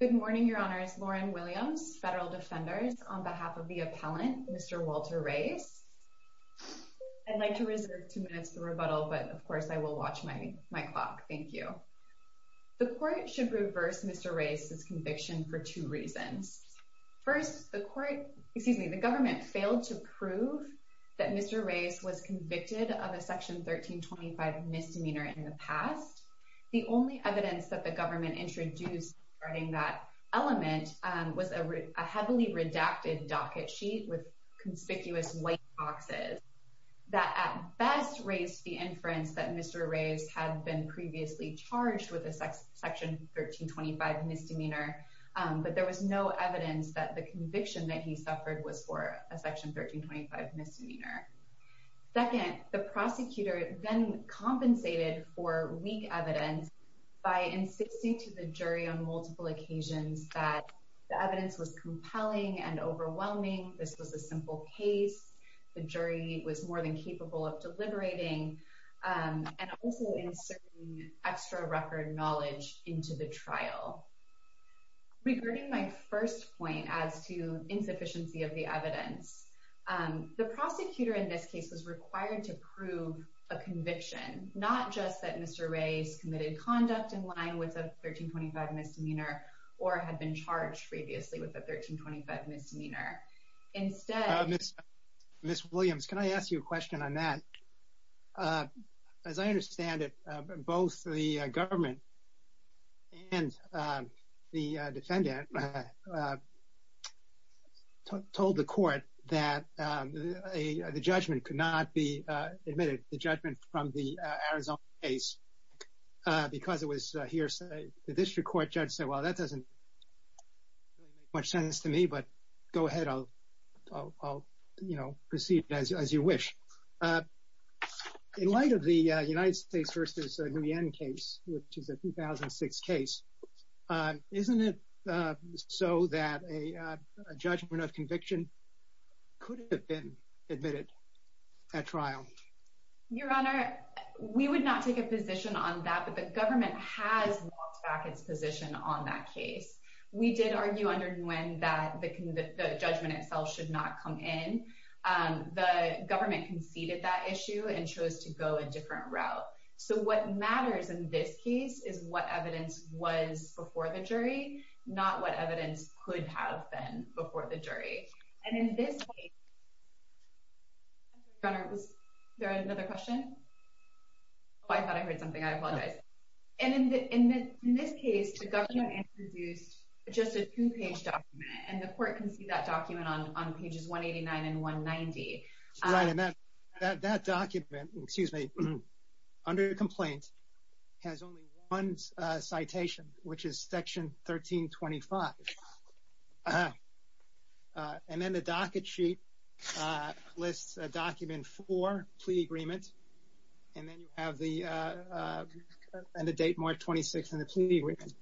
Good morning, Your Honors. Lauren Williams, Federal Defenders, on behalf of the appellant, Mr. Walter Reyes. I'd like to reserve two minutes for rebuttal, but of course I will watch my clock. Thank you. The court should reverse Mr. Reyes's conviction for two reasons. First, the government failed to prove that Mr. Reyes was convicted of a Section 1325 misdemeanor in the past. The only evidence that the government introduced regarding that element was a heavily redacted docket sheet with conspicuous white boxes that at best raised the inference that Mr. Reyes had been previously charged with a Section 1325 misdemeanor, but there was no evidence that the conviction that he suffered was for a Section 1325 misdemeanor. Second, the prosecutor then compensated for weak evidence by insisting to the jury on multiple occasions that the evidence was compelling and overwhelming, this was a simple case, the jury was more than capable of deliberating, and also inserting extra record knowledge into the trial. Regarding my first point as to insufficiency of the evidence, the prosecutor in this case was required to prove a conviction, not just that Mr. Reyes committed conduct in line with a 1325 misdemeanor or had been charged previously with a 1325 misdemeanor. Instead... Ms. Williams, can I ask you a question on that? As I understand it, both the government and the defendant told the court that the judgment could not be admitted, the judgment from the Arizona case, because it was hearsay. The district court judge said, well, that doesn't really make much sense to me, but go ahead, I'll proceed as you wish. In light of the United States v. Nguyen case, which is a 2006 case, isn't it so that a judgment of conviction could have been admitted at trial? Your Honor, we would not take a position on that, but the government has walked back its position on that case. We did argue under Nguyen that the judgment itself should not come in. The government conceded that issue and chose to go a different route. So what matters in this case is what evidence was before the jury, not what evidence could have been before the jury. And in this case... Your Honor, was there another question? Oh, I thought I heard something. I apologize. And in this case, the government introduced just a two-page document, and the Right, and that document, excuse me, under the complaint has only one citation, which is section 1325. And then the docket sheet lists a document for plea agreement, and then you have the end of date, March 26th, and the plea agreement.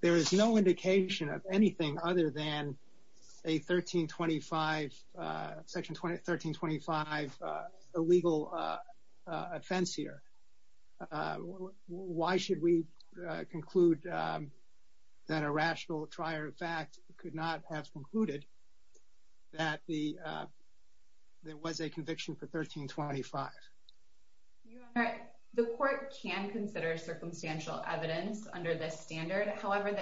There is no indication of anything other than a 1325, section 1325, illegal offense here. Why should we conclude that a rational trier of fact could not have concluded that there was a conviction for 1325? Your Honor, the Court can consider circumstantial evidence under this standard. However,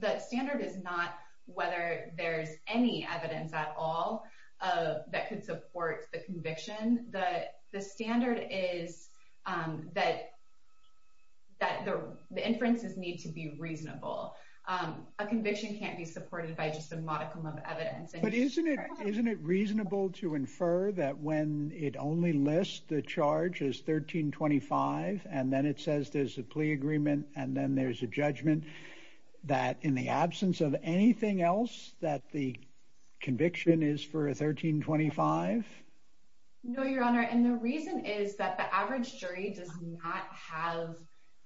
the standard is not whether there's any evidence at all that could support the conviction. The standard is that the inferences need to be reasonable. A conviction can't be supported by just a modicum of evidence. But isn't it reasonable to infer that when it only lists the charge as 1325, and then it says there's a plea agreement, and then there's a judgment, that in the absence of anything else that the conviction is for 1325? No, Your Honor, and the reason is that the average jury does not have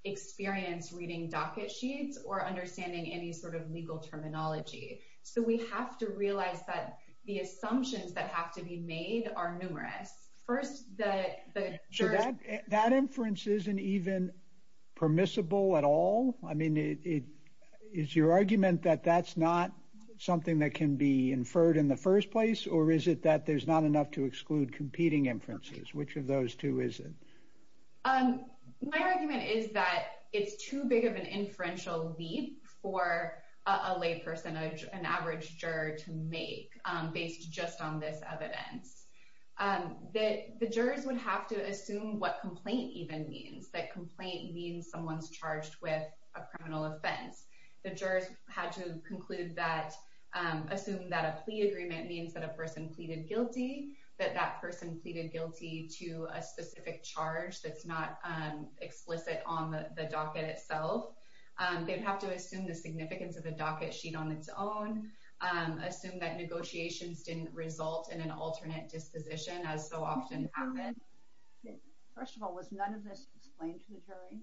experience reading docket sheets or understanding any sort of legal terminology. So we have to realize that the assumptions that have to be made are numerous. First, the That inference isn't even permissible at all? I mean, is your argument that that's not something that can be inferred in the first place? Or is it that there's not enough to exclude competing inferences? Which of those two is it? My argument is that it's too big of an inferential leap for a lay person, an average juror to make based just on this evidence. The jurors would have to assume what complaint even means, that complaint means someone's charged with a criminal offense. The jurors had to assume that a plea agreement means that a person pleaded guilty, that that person pleaded guilty to a specific charge that's not explicit on the docket itself. They'd have to assume the significance of the docket sheet on its own, assume that negotiations didn't result in an alternate disposition, as so often happens. First of all, was none of this explained to the jury?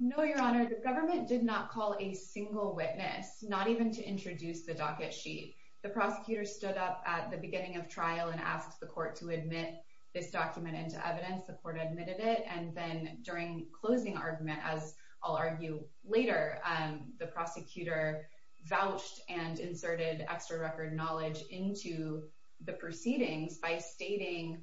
No, Your Honor. The government did not call a single witness, not even to introduce the docket sheet. The prosecutor stood up at the beginning of trial and asked the court to admit this document into evidence. The court admitted it, and then during closing argument, as I'll argue later, the prosecutor vouched and inserted extra record knowledge into the proceedings by stating,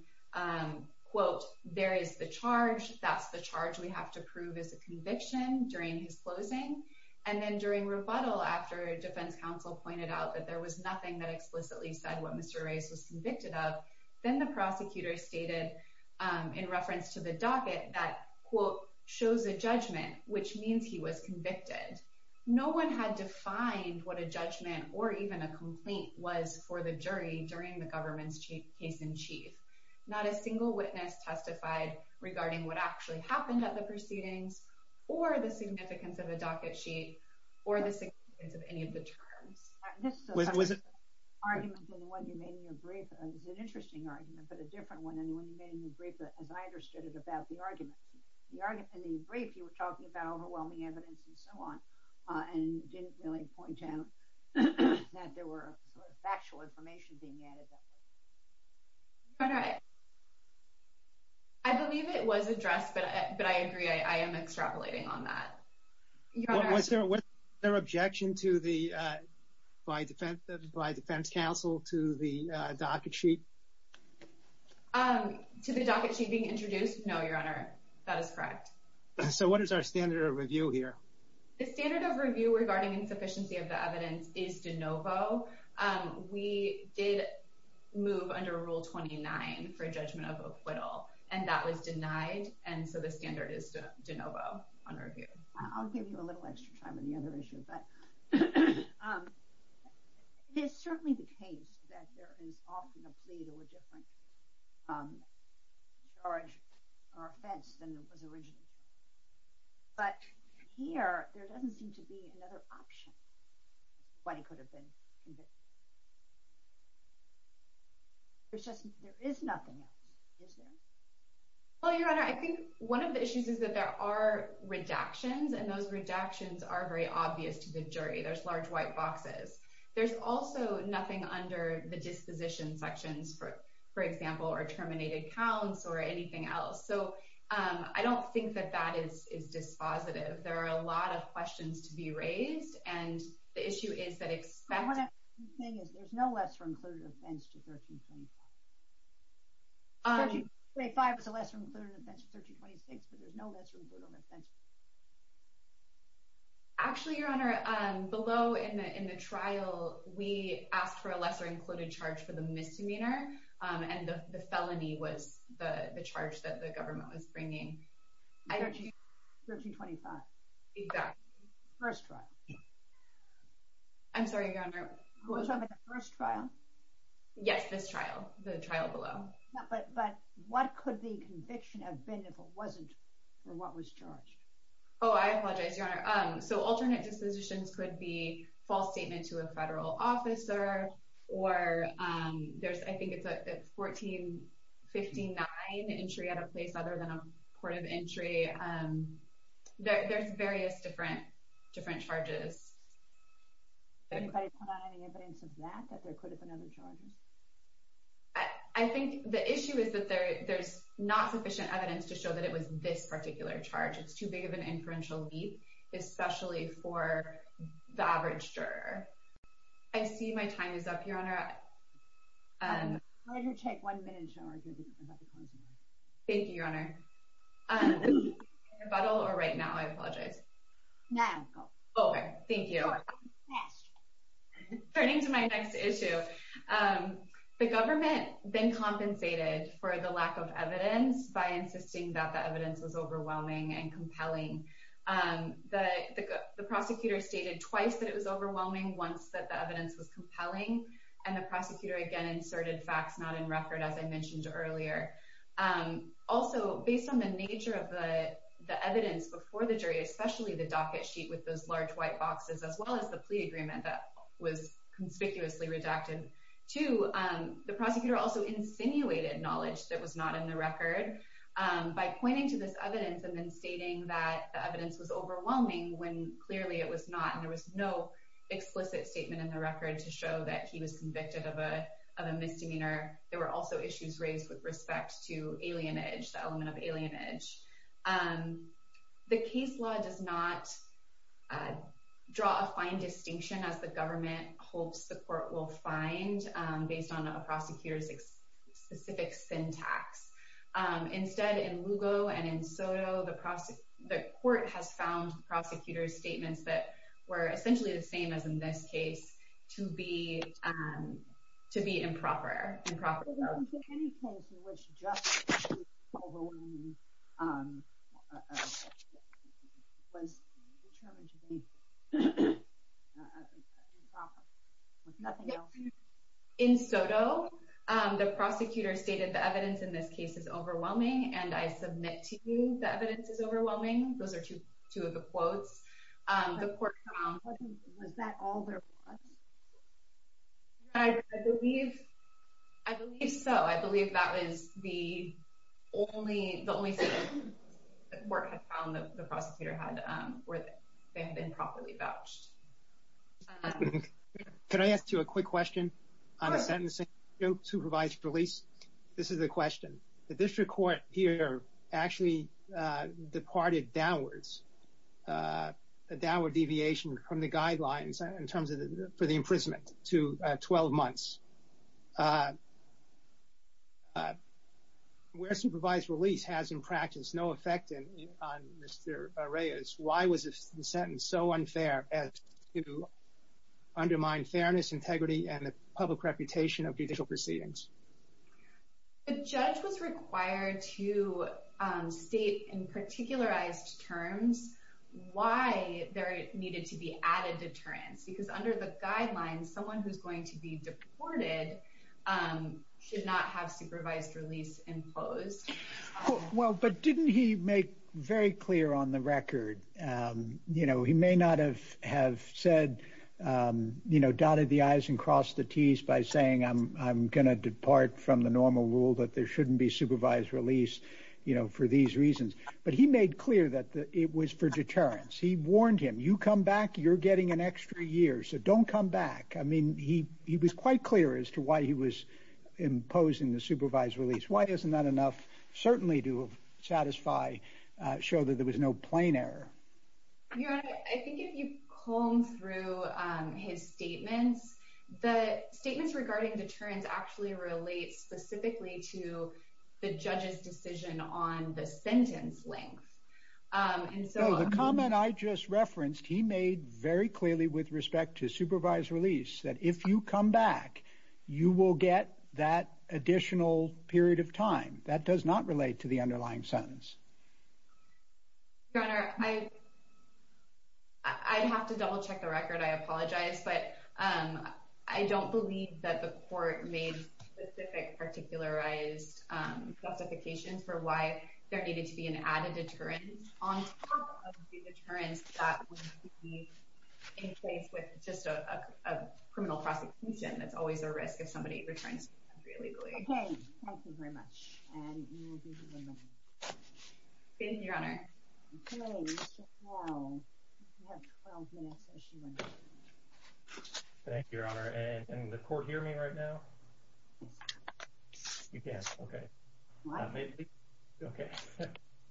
quote, there is the charge, that's the charge we have to prove as a conviction during his closing. And then during rebuttal, after defense counsel pointed out that there was nothing that explicitly said what Mr. Reyes was convicted of, then the prosecutor stated in reference to the docket that, quote, shows a judgment, which means he was convicted. No one had defined what a judgment or even a complaint was for the jury during the government's case in chief. Not a single witness testified regarding what actually happened at the proceedings or the significance of a docket sheet or the significance of any of the terms. This is an interesting argument, but a different one than the argument in the brief. You were talking about overwhelming evidence and so on, and you didn't really point out that there were sort of factual information being added. Your Honor, I believe it was addressed, but I agree. I am extrapolating on that. Was there an objection by defense counsel to the docket sheet? To the docket sheet being introduced? No, Your Honor, that is correct. So what is our standard of review here? The standard of review regarding insufficiency of the evidence is de novo. We did move under Rule 29 for a judgment of acquittal, and that was denied, and so the standard is de novo on review. I'll give you a little extra time on the other issue, but it is certainly the case that there is often a plea to a different charge or offense than it was originally charged. But here, there doesn't seem to be another option as to why he could have been convicted. There is nothing else, is there? Well, Your Honor, I think one of the issues is that there are redactions, and those redactions are very obvious to the jury. There's large white boxes. There's also nothing under the disposition sections, for example, or terminated counts or anything else. So I don't think that that is dispositive. There are a lot of questions to be raised, and the issue is that, except— I want to—the thing is, there's no lesser-included offense to 1325. 1325 was a lesser-included offense to 1326, but there's no lesser-included offense. Actually, Your Honor, below in the trial, we asked for a lesser-included charge for the misdemeanor, and the felony was the charge that the government was bringing. 1325. Exactly. First trial. I'm sorry, Your Honor. You're talking about the first trial? Yes, this trial. The trial below. But what could the conviction have been if it wasn't for what was charged? Oh, I apologize, Your Honor. So alternate dispositions could be false statement to a federal officer, or there's—I think it's a 1459 entry at a place other than a port of entry. There's various different charges. Can anybody put on any evidence of that, that there could have been other charges? I think the issue is that there's not sufficient evidence to show that it was this particular charge. It's too big of an inferential leap, especially for the average juror. I see my time is up, Your Honor. I'll let you take one minute, Your Honor. Thank you, Your Honor. Rebuttal or right now? I apologize. Now. Okay, thank you. Turning to my next issue, the government then compensated for the lack of evidence by insisting that the evidence was overwhelming and compelling. The prosecutor stated twice that it was overwhelming, once that the evidence was compelling, and the prosecutor again inserted facts not in record, as I mentioned earlier. Also, based on the nature of the evidence before the jury, especially the docket sheet with those large white boxes, as well as the plea agreement that was conspicuously redacted too, the prosecutor also insinuated knowledge that was not in the record by pointing to this evidence and then stating that the evidence was overwhelming when clearly it was not. And there was no explicit statement in the record to show that he was convicted of a misdemeanor. There were also issues raised with respect to alienage, the element of alienage. The case law does not draw a fine distinction as the government hopes the court will find based on a prosecutor's specific syntax. Instead, in Lugo and in Soto, the court has found the prosecutor's statements that were essentially the same as in this case to be improper. In Soto, the prosecutor stated the evidence in this case is overwhelming, and I submit to you the evidence is overwhelming. Those are two of the quotes. The court found... Was that all there was? I believe so. I believe that was the only thing the court had found that the prosecutor had, where they had been properly vouched. Can I ask you a quick question on the sentencing, supervised release? This is a question. The downward deviation from the guidelines in terms of the imprisonment to 12 months. Where supervised release has in practice no effect on Mr. Reyes, why was the sentence so unfair as to undermine fairness, integrity, and the public reputation of judicial proceedings? The judge was required to state in particularized terms why there needed to be added deterrence, because under the guidelines, someone who's going to be deported should not have supervised release imposed. Well, but didn't he make very clear on the record? He may not have said, dotted the i's and crossed the t's by saying, I'm going to depart from the normal rule that there shouldn't be supervised release for these reasons, but he made clear that it was for deterrence. He warned him, you come back, you're getting an extra year, so don't come back. I mean, he was quite clear as to why he was imposing the supervised release. Why isn't that enough certainly to satisfy, show that there was no plain error? Your Honor, I think if you comb through his statements, the statements regarding deterrence actually relate specifically to the judge's decision on the sentence length. The comment I just referenced, he made very clearly with respect to supervised release, that if you come back, you will get that additional period of time. That does not relate to the underlying sentence. Your Honor, I'd have to double check the record. I apologize, but I don't believe that the court made specific, particularized justifications for why there needed to be an added deterrence on top of the deterrence that would be in place with just a criminal prosecution. That's always a risk if somebody returns to the country illegally. Okay, thank you very much, and we will be moving on. Thank you, Your Honor. Thank you, Your Honor, and can the court hear me right now? You can, okay. May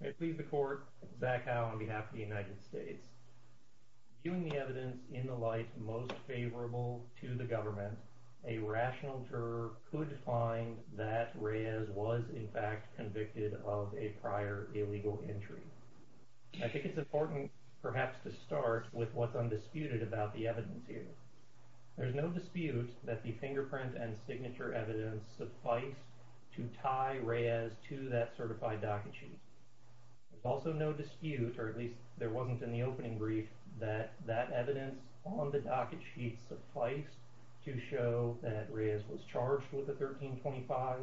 it please the court, Zach Howe on behalf of the United States. Viewing the evidence in the light most favorable to the government, a rational juror could find that Reyes was in fact convicted of a prior illegal entry. I think it's important perhaps to start with what's undisputed about the evidence here. There's no dispute that the fingerprint and signature evidence suffice to tie Reyes to that certified docket sheet. There's also no dispute, or at least there wasn't in the opening brief, that that evidence on the docket sheet sufficed to show that Reyes was charged with a 1325,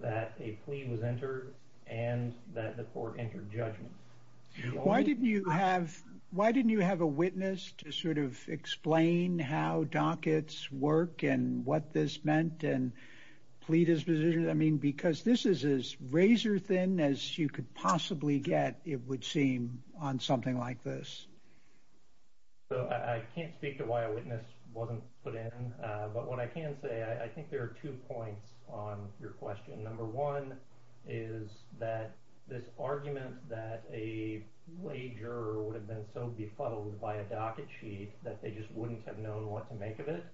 that a plea was entered, and that the court entered judgment. Why didn't you have a witness to sort of explain how dockets work and what this meant and plea disposition? I mean, because this is as razor thin as you could possibly get, it would seem, on something like this. So I can't speak to why a witness wasn't put in, but what I can say, I think there are two points on your question. Number one is that this argument that a lay juror would have been so befuddled by a docket sheet that they just wouldn't have known what to make of it,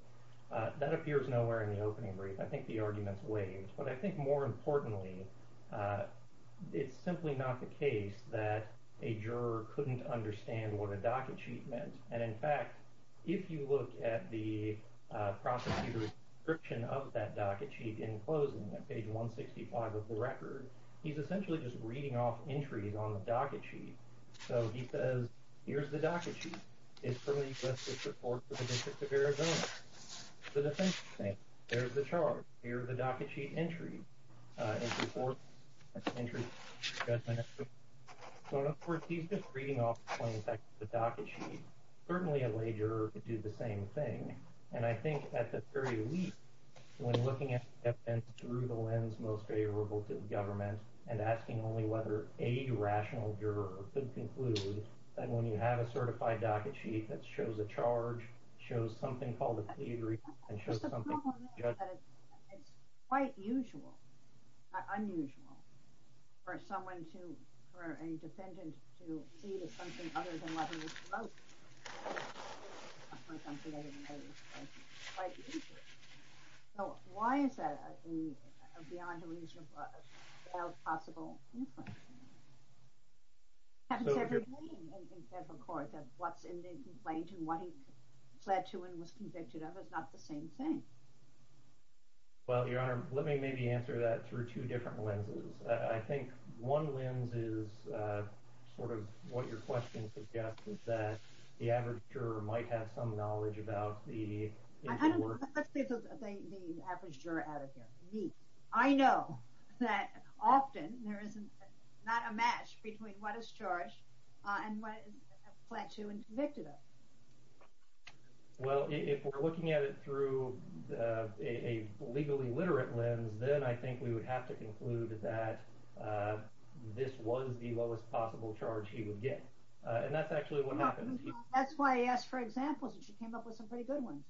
that appears nowhere in the opening brief. I think the argument's waived, but I think more importantly, it's simply not the case that a juror couldn't understand what a docket sheet meant. And in fact, if you look at the prosecutor's description of that docket sheet in closing, at page 165 of the record, he's essentially just reading off entries on the docket sheet. So he says, here's the docket sheet. It's from a request of support for the court. He's just reading off the docket sheet. Certainly a lay juror could do the same thing. And I think at the very least, when looking at evidence through the lens most favorable to government and asking only whether a rational juror could conclude that when you have a certified docket sheet that shows a charge, shows something called a plea agreement, and shows that it's quite usual, unusual for someone to, for a defendant to plead with something other than what he was supposed to plead with. So why is that a beyond illusion without possible inference? That's everything in federal court, that what's in the complaint and what he fled to and was convicted of is not the same thing. Well, Your Honor, let me maybe answer that through two different lenses. I think one lens is sort of what your question suggests, is that the average juror might have some knowledge about the... Let's get the average juror out of here, me. I know that often there is not a match between what is charged and what is fled to and convicted of. Well, if we're looking at it through a legally literate lens, then I think we would have to conclude that this was the lowest possible charge he would get. And that's actually what happens. That's why I asked for examples and she came up with some pretty good ones.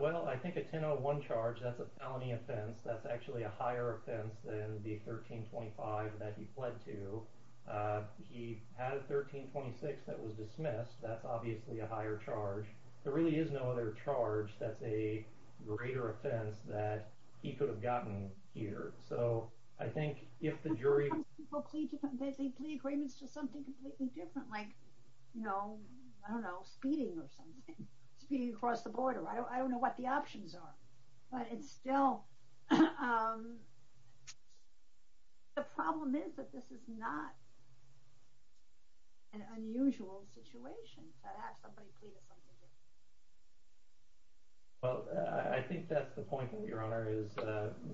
Well, I think a 1001 charge, that's a felony offense. That's actually a higher offense than the 1325 that he fled to. He had a 1326 that was dismissed. That's obviously a higher charge. There really is no other charge that's a greater offense that he could have gotten here. So I think if the jury... They plead agreements to something completely different, like, I don't know, speeding or something, speeding across the border. I don't know what the options are. But it's still... The problem is that this is not an unusual situation to have somebody plead something different. Well, I think that's the point, Your Honor, is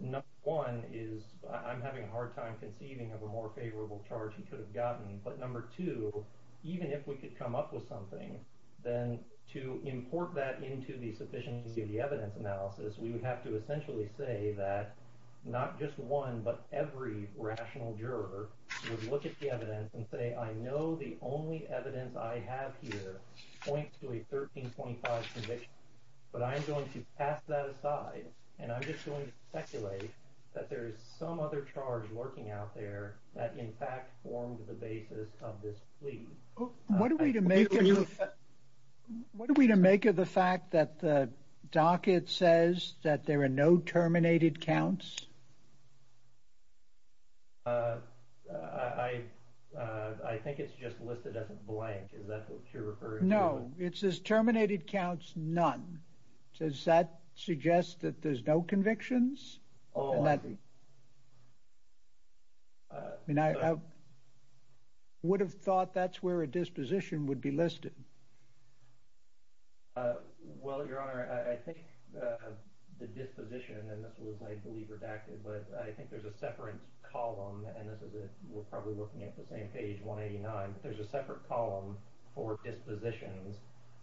number one is I'm having a hard time conceiving of a more favorable charge he could have gotten. But number two, even if we could come up with something, then to import that into the sufficiency of the evidence analysis, we would have to essentially say that not just one, but every rational juror would look at the evidence and say, I know the only evidence I have here points to a 1325 conviction, but I'm going to pass that aside. And I'm just going to speculate that there is some other charge lurking out there that in fact formed the basis of this plea. What are we to make of the fact that the docket says that there are no terminated counts? I think it's just listed as a blank. Is that what you're referring to? No, it says terminated counts none. Does that suggest that there's no convictions? Oh, I mean, I would have thought that's where a disposition would be listed. Well, Your Honor, I think the disposition and this was, I believe, redacted, but I think there's a separate column and this is it. We're probably looking at the same page 189. There's a separate column for dispositions.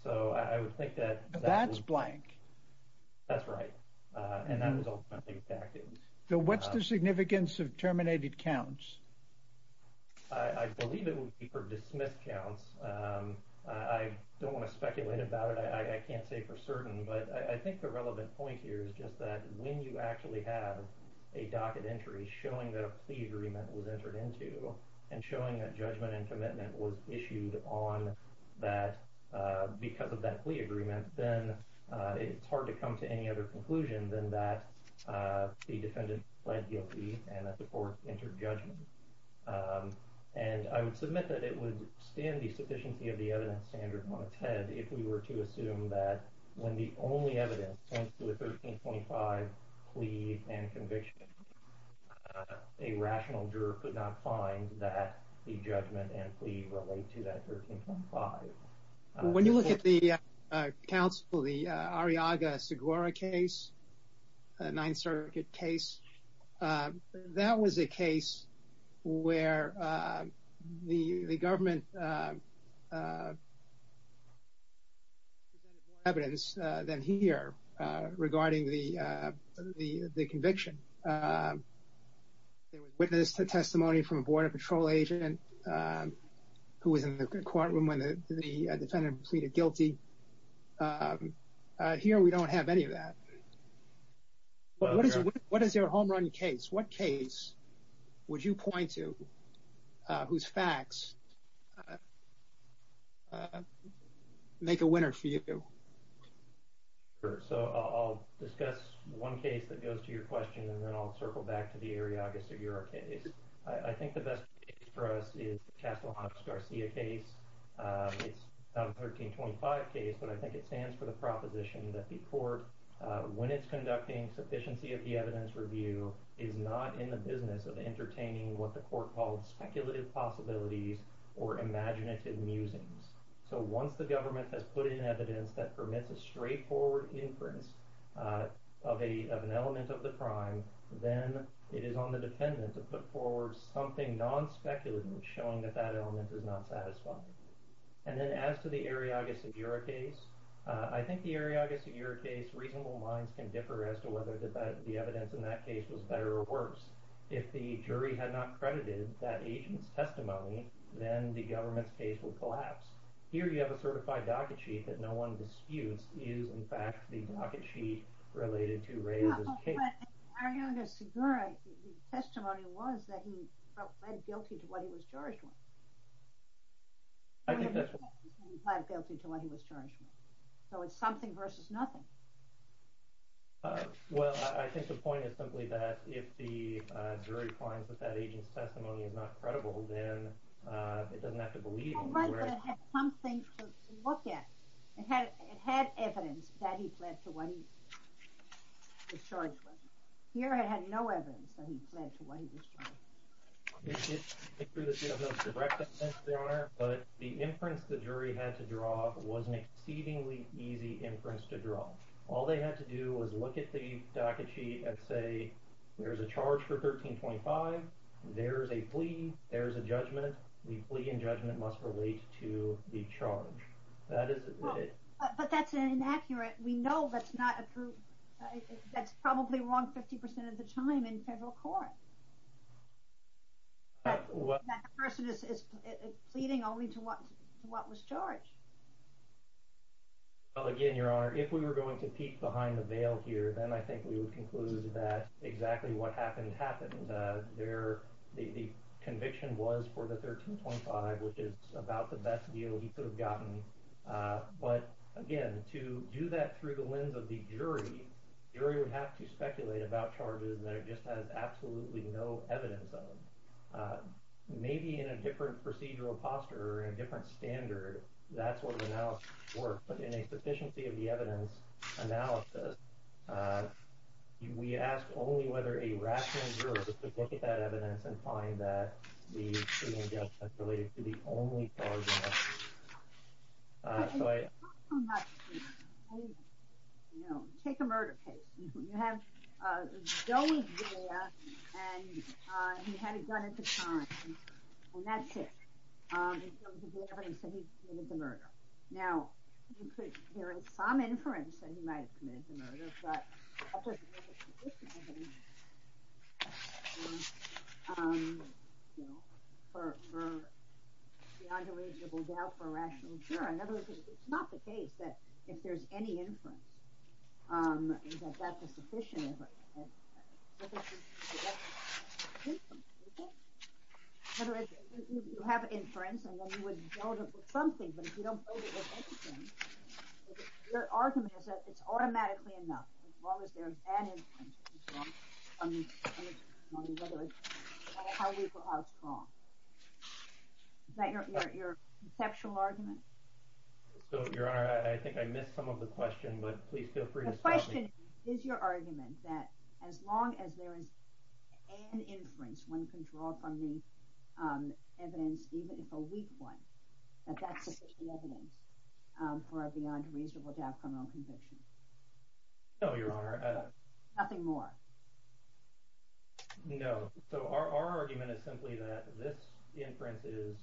So I would think that that's blank. That's right. And that was redacted. So what's the significance of terminated counts? I believe it would be for dismissed counts. I don't want to speculate about it. I can't say for certain, but I think the relevant point here is just that when you actually have a docket entry showing that a plea agreement was entered into and showing that judgment and commitment was issued on that because of that plea agreement, then it's hard to come to any other conclusion than that the defendant pled guilty and that the court entered judgment. And I would submit that it would stand the sufficiency of the evidence standard on its head if we were to assume that when the only evidence points to a 1325 plea and conviction, a rational juror could not find that the judgment and plea relate to that 1325. When you look at the council, the Arriaga-Segura case, a Ninth Circuit case, that was a case where the government presented more evidence than here regarding the conviction. There was witness testimony from a defendant who pleaded guilty. Here, we don't have any of that. What is your home run case? What case would you point to whose facts make a winner for you? So I'll discuss one case that goes to your question and then I'll circle back to the 1325 case, but I think it stands for the proposition that the court, when it's conducting sufficiency of the evidence review, is not in the business of entertaining what the court called speculative possibilities or imaginative musings. So once the government has put in evidence that permits a straightforward inference of an element of the crime, then it is on the defendant to put something non-speculative showing that that element is not satisfying. And then as to the Arriaga-Segura case, I think the Arriaga-Segura case reasonable minds can differ as to whether the evidence in that case was better or worse. If the jury had not credited that agent's testimony, then the government's case would collapse. Here, you have a certified docket sheet that no one disputes is in fact the docket sheet related to Reyes's case. Arriaga-Segura's testimony was that he pled guilty to what he was charged with. I think that's right. Pled guilty to what he was charged with. So it's something versus nothing. Well, I think the point is simply that if the jury finds that that agent's testimony is not credible, then it doesn't have to believe him. It had something to look at. It had evidence that he pled to what he was charged with. Here, it had no evidence that he pled to what he was charged with. But the inference the jury had to draw was an exceedingly easy inference to draw. All they had to do was look at the docket sheet and say, there's a charge for 1325, there's a plea, there's a judgment. The plea and judgment must relate to the charge. But that's inaccurate. We know that's not approved. That's probably wrong 50% of the time in federal court. That person is pleading only to what was charged. Well, again, Your Honor, if we were going to peek behind the veil here, then I think we would that exactly what happened happened. The conviction was for the 1325, which is about the best deal he could have gotten. But again, to do that through the lens of the jury, the jury would have to speculate about charges that it just has absolutely no evidence of. Maybe in a different procedural posture or in a different standard, that's where the analysis would work. But in a sufficiency of evidence analysis, we ask only whether a rational juror could look at that evidence and find that the plea and judgment is related to the only charge. Take a murder case. You have Joey Galea, and he had a gun at the time. Well, that's it. He committed the murder. Now, you could hear some inference that he might have committed the murder, but that doesn't make it sufficient evidence for beyond a reasonable doubt for a rational juror. In other words, it's not the case that if there's any inference that that's sufficient. You have inference, and then you would build it with something. But if you don't build it with anything, your argument is that it's automatically enough, as long as there's that inference. How weak or how strong? Is that your conceptual argument? So, Your Honor, I think I missed some of the question, but please feel free to stop me. Is your argument that as long as there is an inference, one can draw from the evidence, even if a weak one, that that's sufficient evidence for a beyond reasonable doubt criminal conviction? No, Your Honor. Nothing more? No. So, our argument is simply that this inference is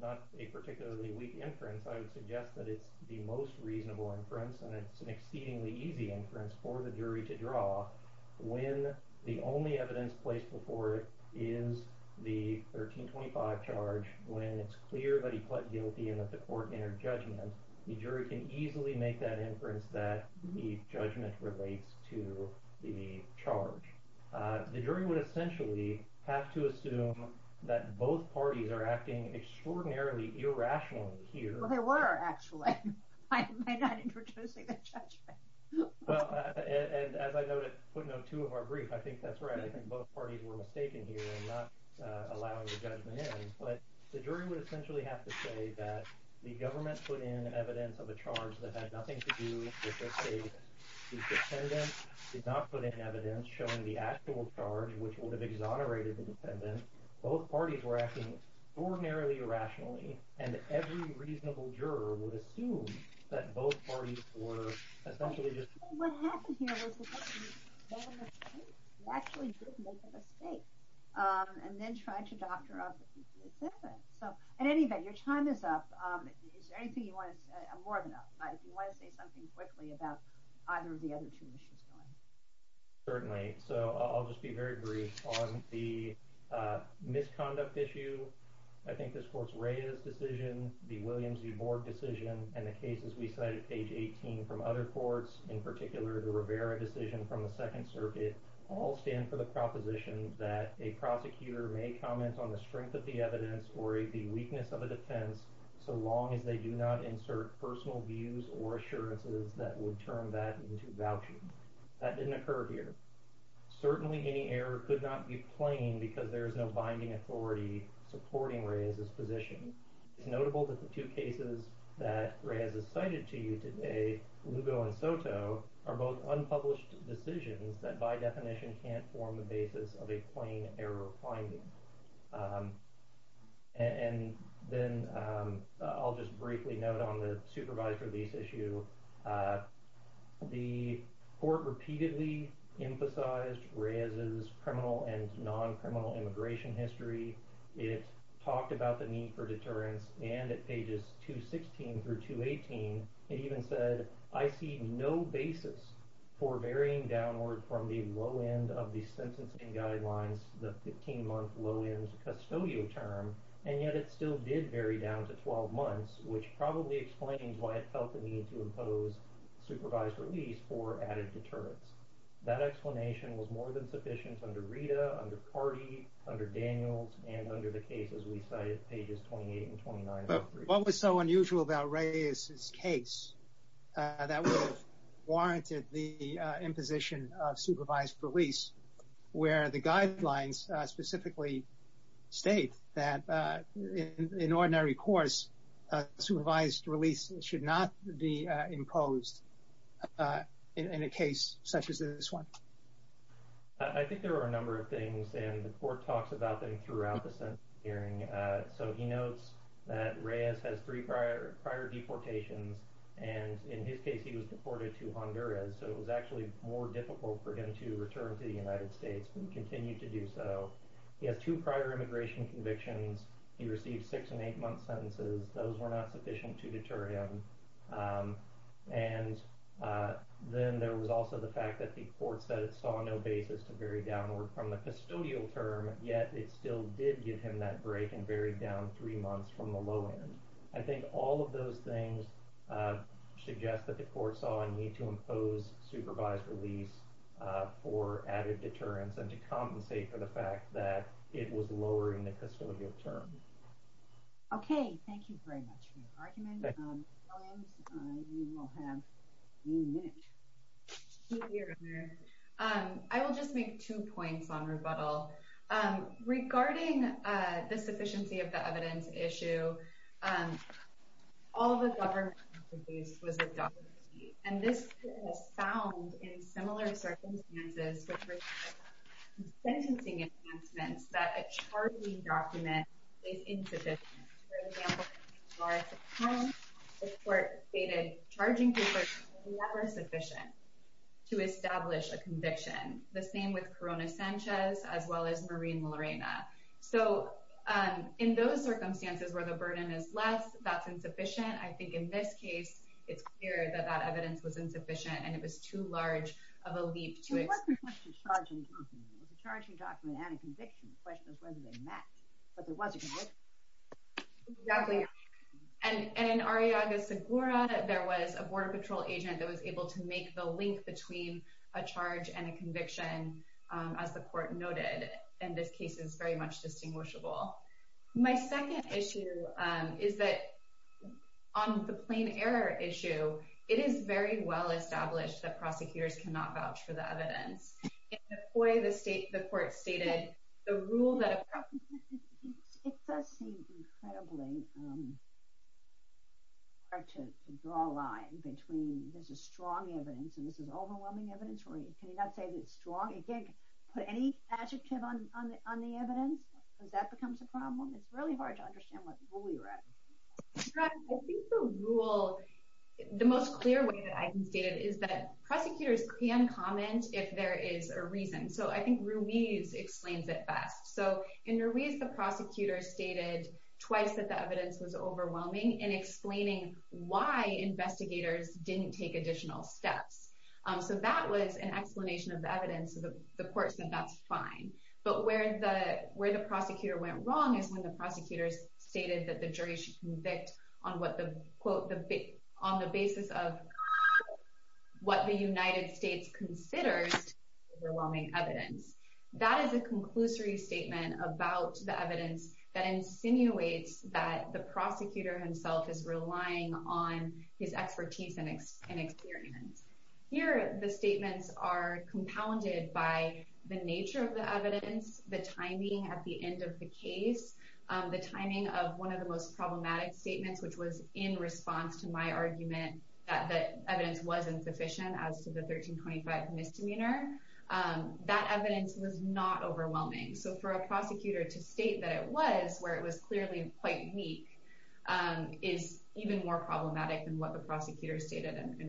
not a particularly weak inference. I would suggest that it's the most reasonable inference, and it's an exceedingly easy inference for the jury to draw when the only evidence placed before it is the 1325 charge. When it's clear that he pled guilty and that the court entered judgment, the jury can easily make that inference that the judgment relates to the charge. The jury would essentially have to assume that both parties are acting extraordinarily irrationally here. They were, actually. Am I not introducing the judgment? Well, and as I noted, putting out two of our briefs, I think that's right. I think both parties were mistaken here in not allowing the judgment in, but the jury would essentially have to say that the government put in evidence of a charge that had nothing to do with their state. The defendant did not put in evidence showing the actual charge, which would have exonerated the defendant. Both parties were acting extraordinarily irrationally, and every reasonable juror would assume that both parties were essentially just... What happened here was the government made a mistake. They actually did make a mistake, and then tried to doctor up the defendant. So, in any event, your time is up. Is there anything you want to say? I'm more than up. If you want to say something quickly about either of the other two issues going. Certainly. So, I'll just be very brief on the misconduct issue. I think this court's Reyes decision, the Williams v. Borg decision, and the cases we cited, page 18, from other courts, in particular the Rivera decision from the Second Circuit, all stand for the proposition that a prosecutor may comment on the strength of the evidence or the weakness of a defense so long as they do not insert personal views or assurances that would turn that into vouching. That didn't occur here. Certainly, any error could not be plain because there is no binding authority supporting Reyes's position. It's notable that the two cases that Reyes has cited to you today, Lugo and Soto, are both unpublished decisions that by definition can't form the basis of a plain error finding. And then I'll just briefly note on the supervised release issue, the court repeatedly emphasized Reyes's criminal and non-criminal immigration history. It talked about the need for deterrence, and at pages 216 through 218, it even said, I see no basis for varying downward from the low end of the sentencing guidelines, the 15-month low-end custodial term, and yet it still did vary down to 12 months, which probably explains why it felt the need to impose supervised release for added deterrence. That explanation was more than sufficient under Rita, under Carty, under Daniels, and under the cases we cited, pages 28 and 29. But what was so unusual about Reyes's case that would have warranted the imposition of supervised release, where the guidelines specifically state that in ordinary courts, supervised release should not be imposed in a case such as this one? I think there are a number of things, and the court talks about them throughout the sentencing hearing. So he notes that Reyes has three prior deportations, and in his case, he was deported to Honduras, so it was actually more difficult for him to return to the United States and continue to do so. He has two prior immigration convictions. He received six and eight-month sentences. Those were not sufficient to deter him. And then there was also the fact that the court said it saw no basis to vary downward from the custodial term, yet it still did give him that break and varied down three months from the low end. I think all of those things suggest that the court saw a need to impose supervised release for added deterrence and to compensate for the fact that it was lower in the custodial term. Okay, thank you very much for your argument. Williams, you will have a minute. I will just make two points on rebuttal. Regarding the sufficiency of the evidence issue, all the government expertise was adopted, and this was found in similar circumstances, which were sentencing advancements that a charging document is insufficient. For example, in the case of Morris at home, the court stated charging papers were never sufficient to establish a conviction. The same with Corona Sanchez, as well as Marie and Lorena. So in those circumstances where the burden is less, that's insufficient. I think in this case, it's clear that that evidence was insufficient, and it was too large of a leap to it. It wasn't just a charging document. It was a charging document and a conviction. The question is whether they match, whether it was a conviction. Exactly. And in Ariaga-Segura, there was a border patrol agent that was able to make the link between a charge and a conviction, as the court noted. And this case is very much distinguishable. My second issue is that on the plain error issue, it is very well established that prosecutors cannot vouch for the evidence. In Nepoi, the state, the court stated the rule that It does seem incredibly hard to draw a line between this is strong evidence and this is overwhelming evidence. Can you not say that it's strong? You can't put any adjective on the evidence because that becomes a problem. It's really hard to understand what rule you're at. I think the rule, the most clear way that I can state it is that prosecutors can comment if there is a reason. So I think Ruiz explains it best. So in Ruiz, the prosecutor stated twice that the evidence was overwhelming in explaining why investigators didn't take additional steps. So that was an explanation of the evidence. The court said that's fine. But where the prosecutor went wrong is when the prosecutors stated that the jury should convict on the basis of what the United States considers overwhelming evidence. That is a conclusory statement about the evidence that insinuates that the prosecutor himself is relying on his expertise and experience. Here, the statements are compounded by the nature of the evidence, the timing at the end of the case, the timing of one of the most problematic statements, which was in response to my argument that the evidence was insufficient as to the 1325 misdemeanor. That evidence was not overwhelming. So for a prosecutor to state that it was where it was clearly quite weak is even more problematic than what the prosecutor stated in Ruiz.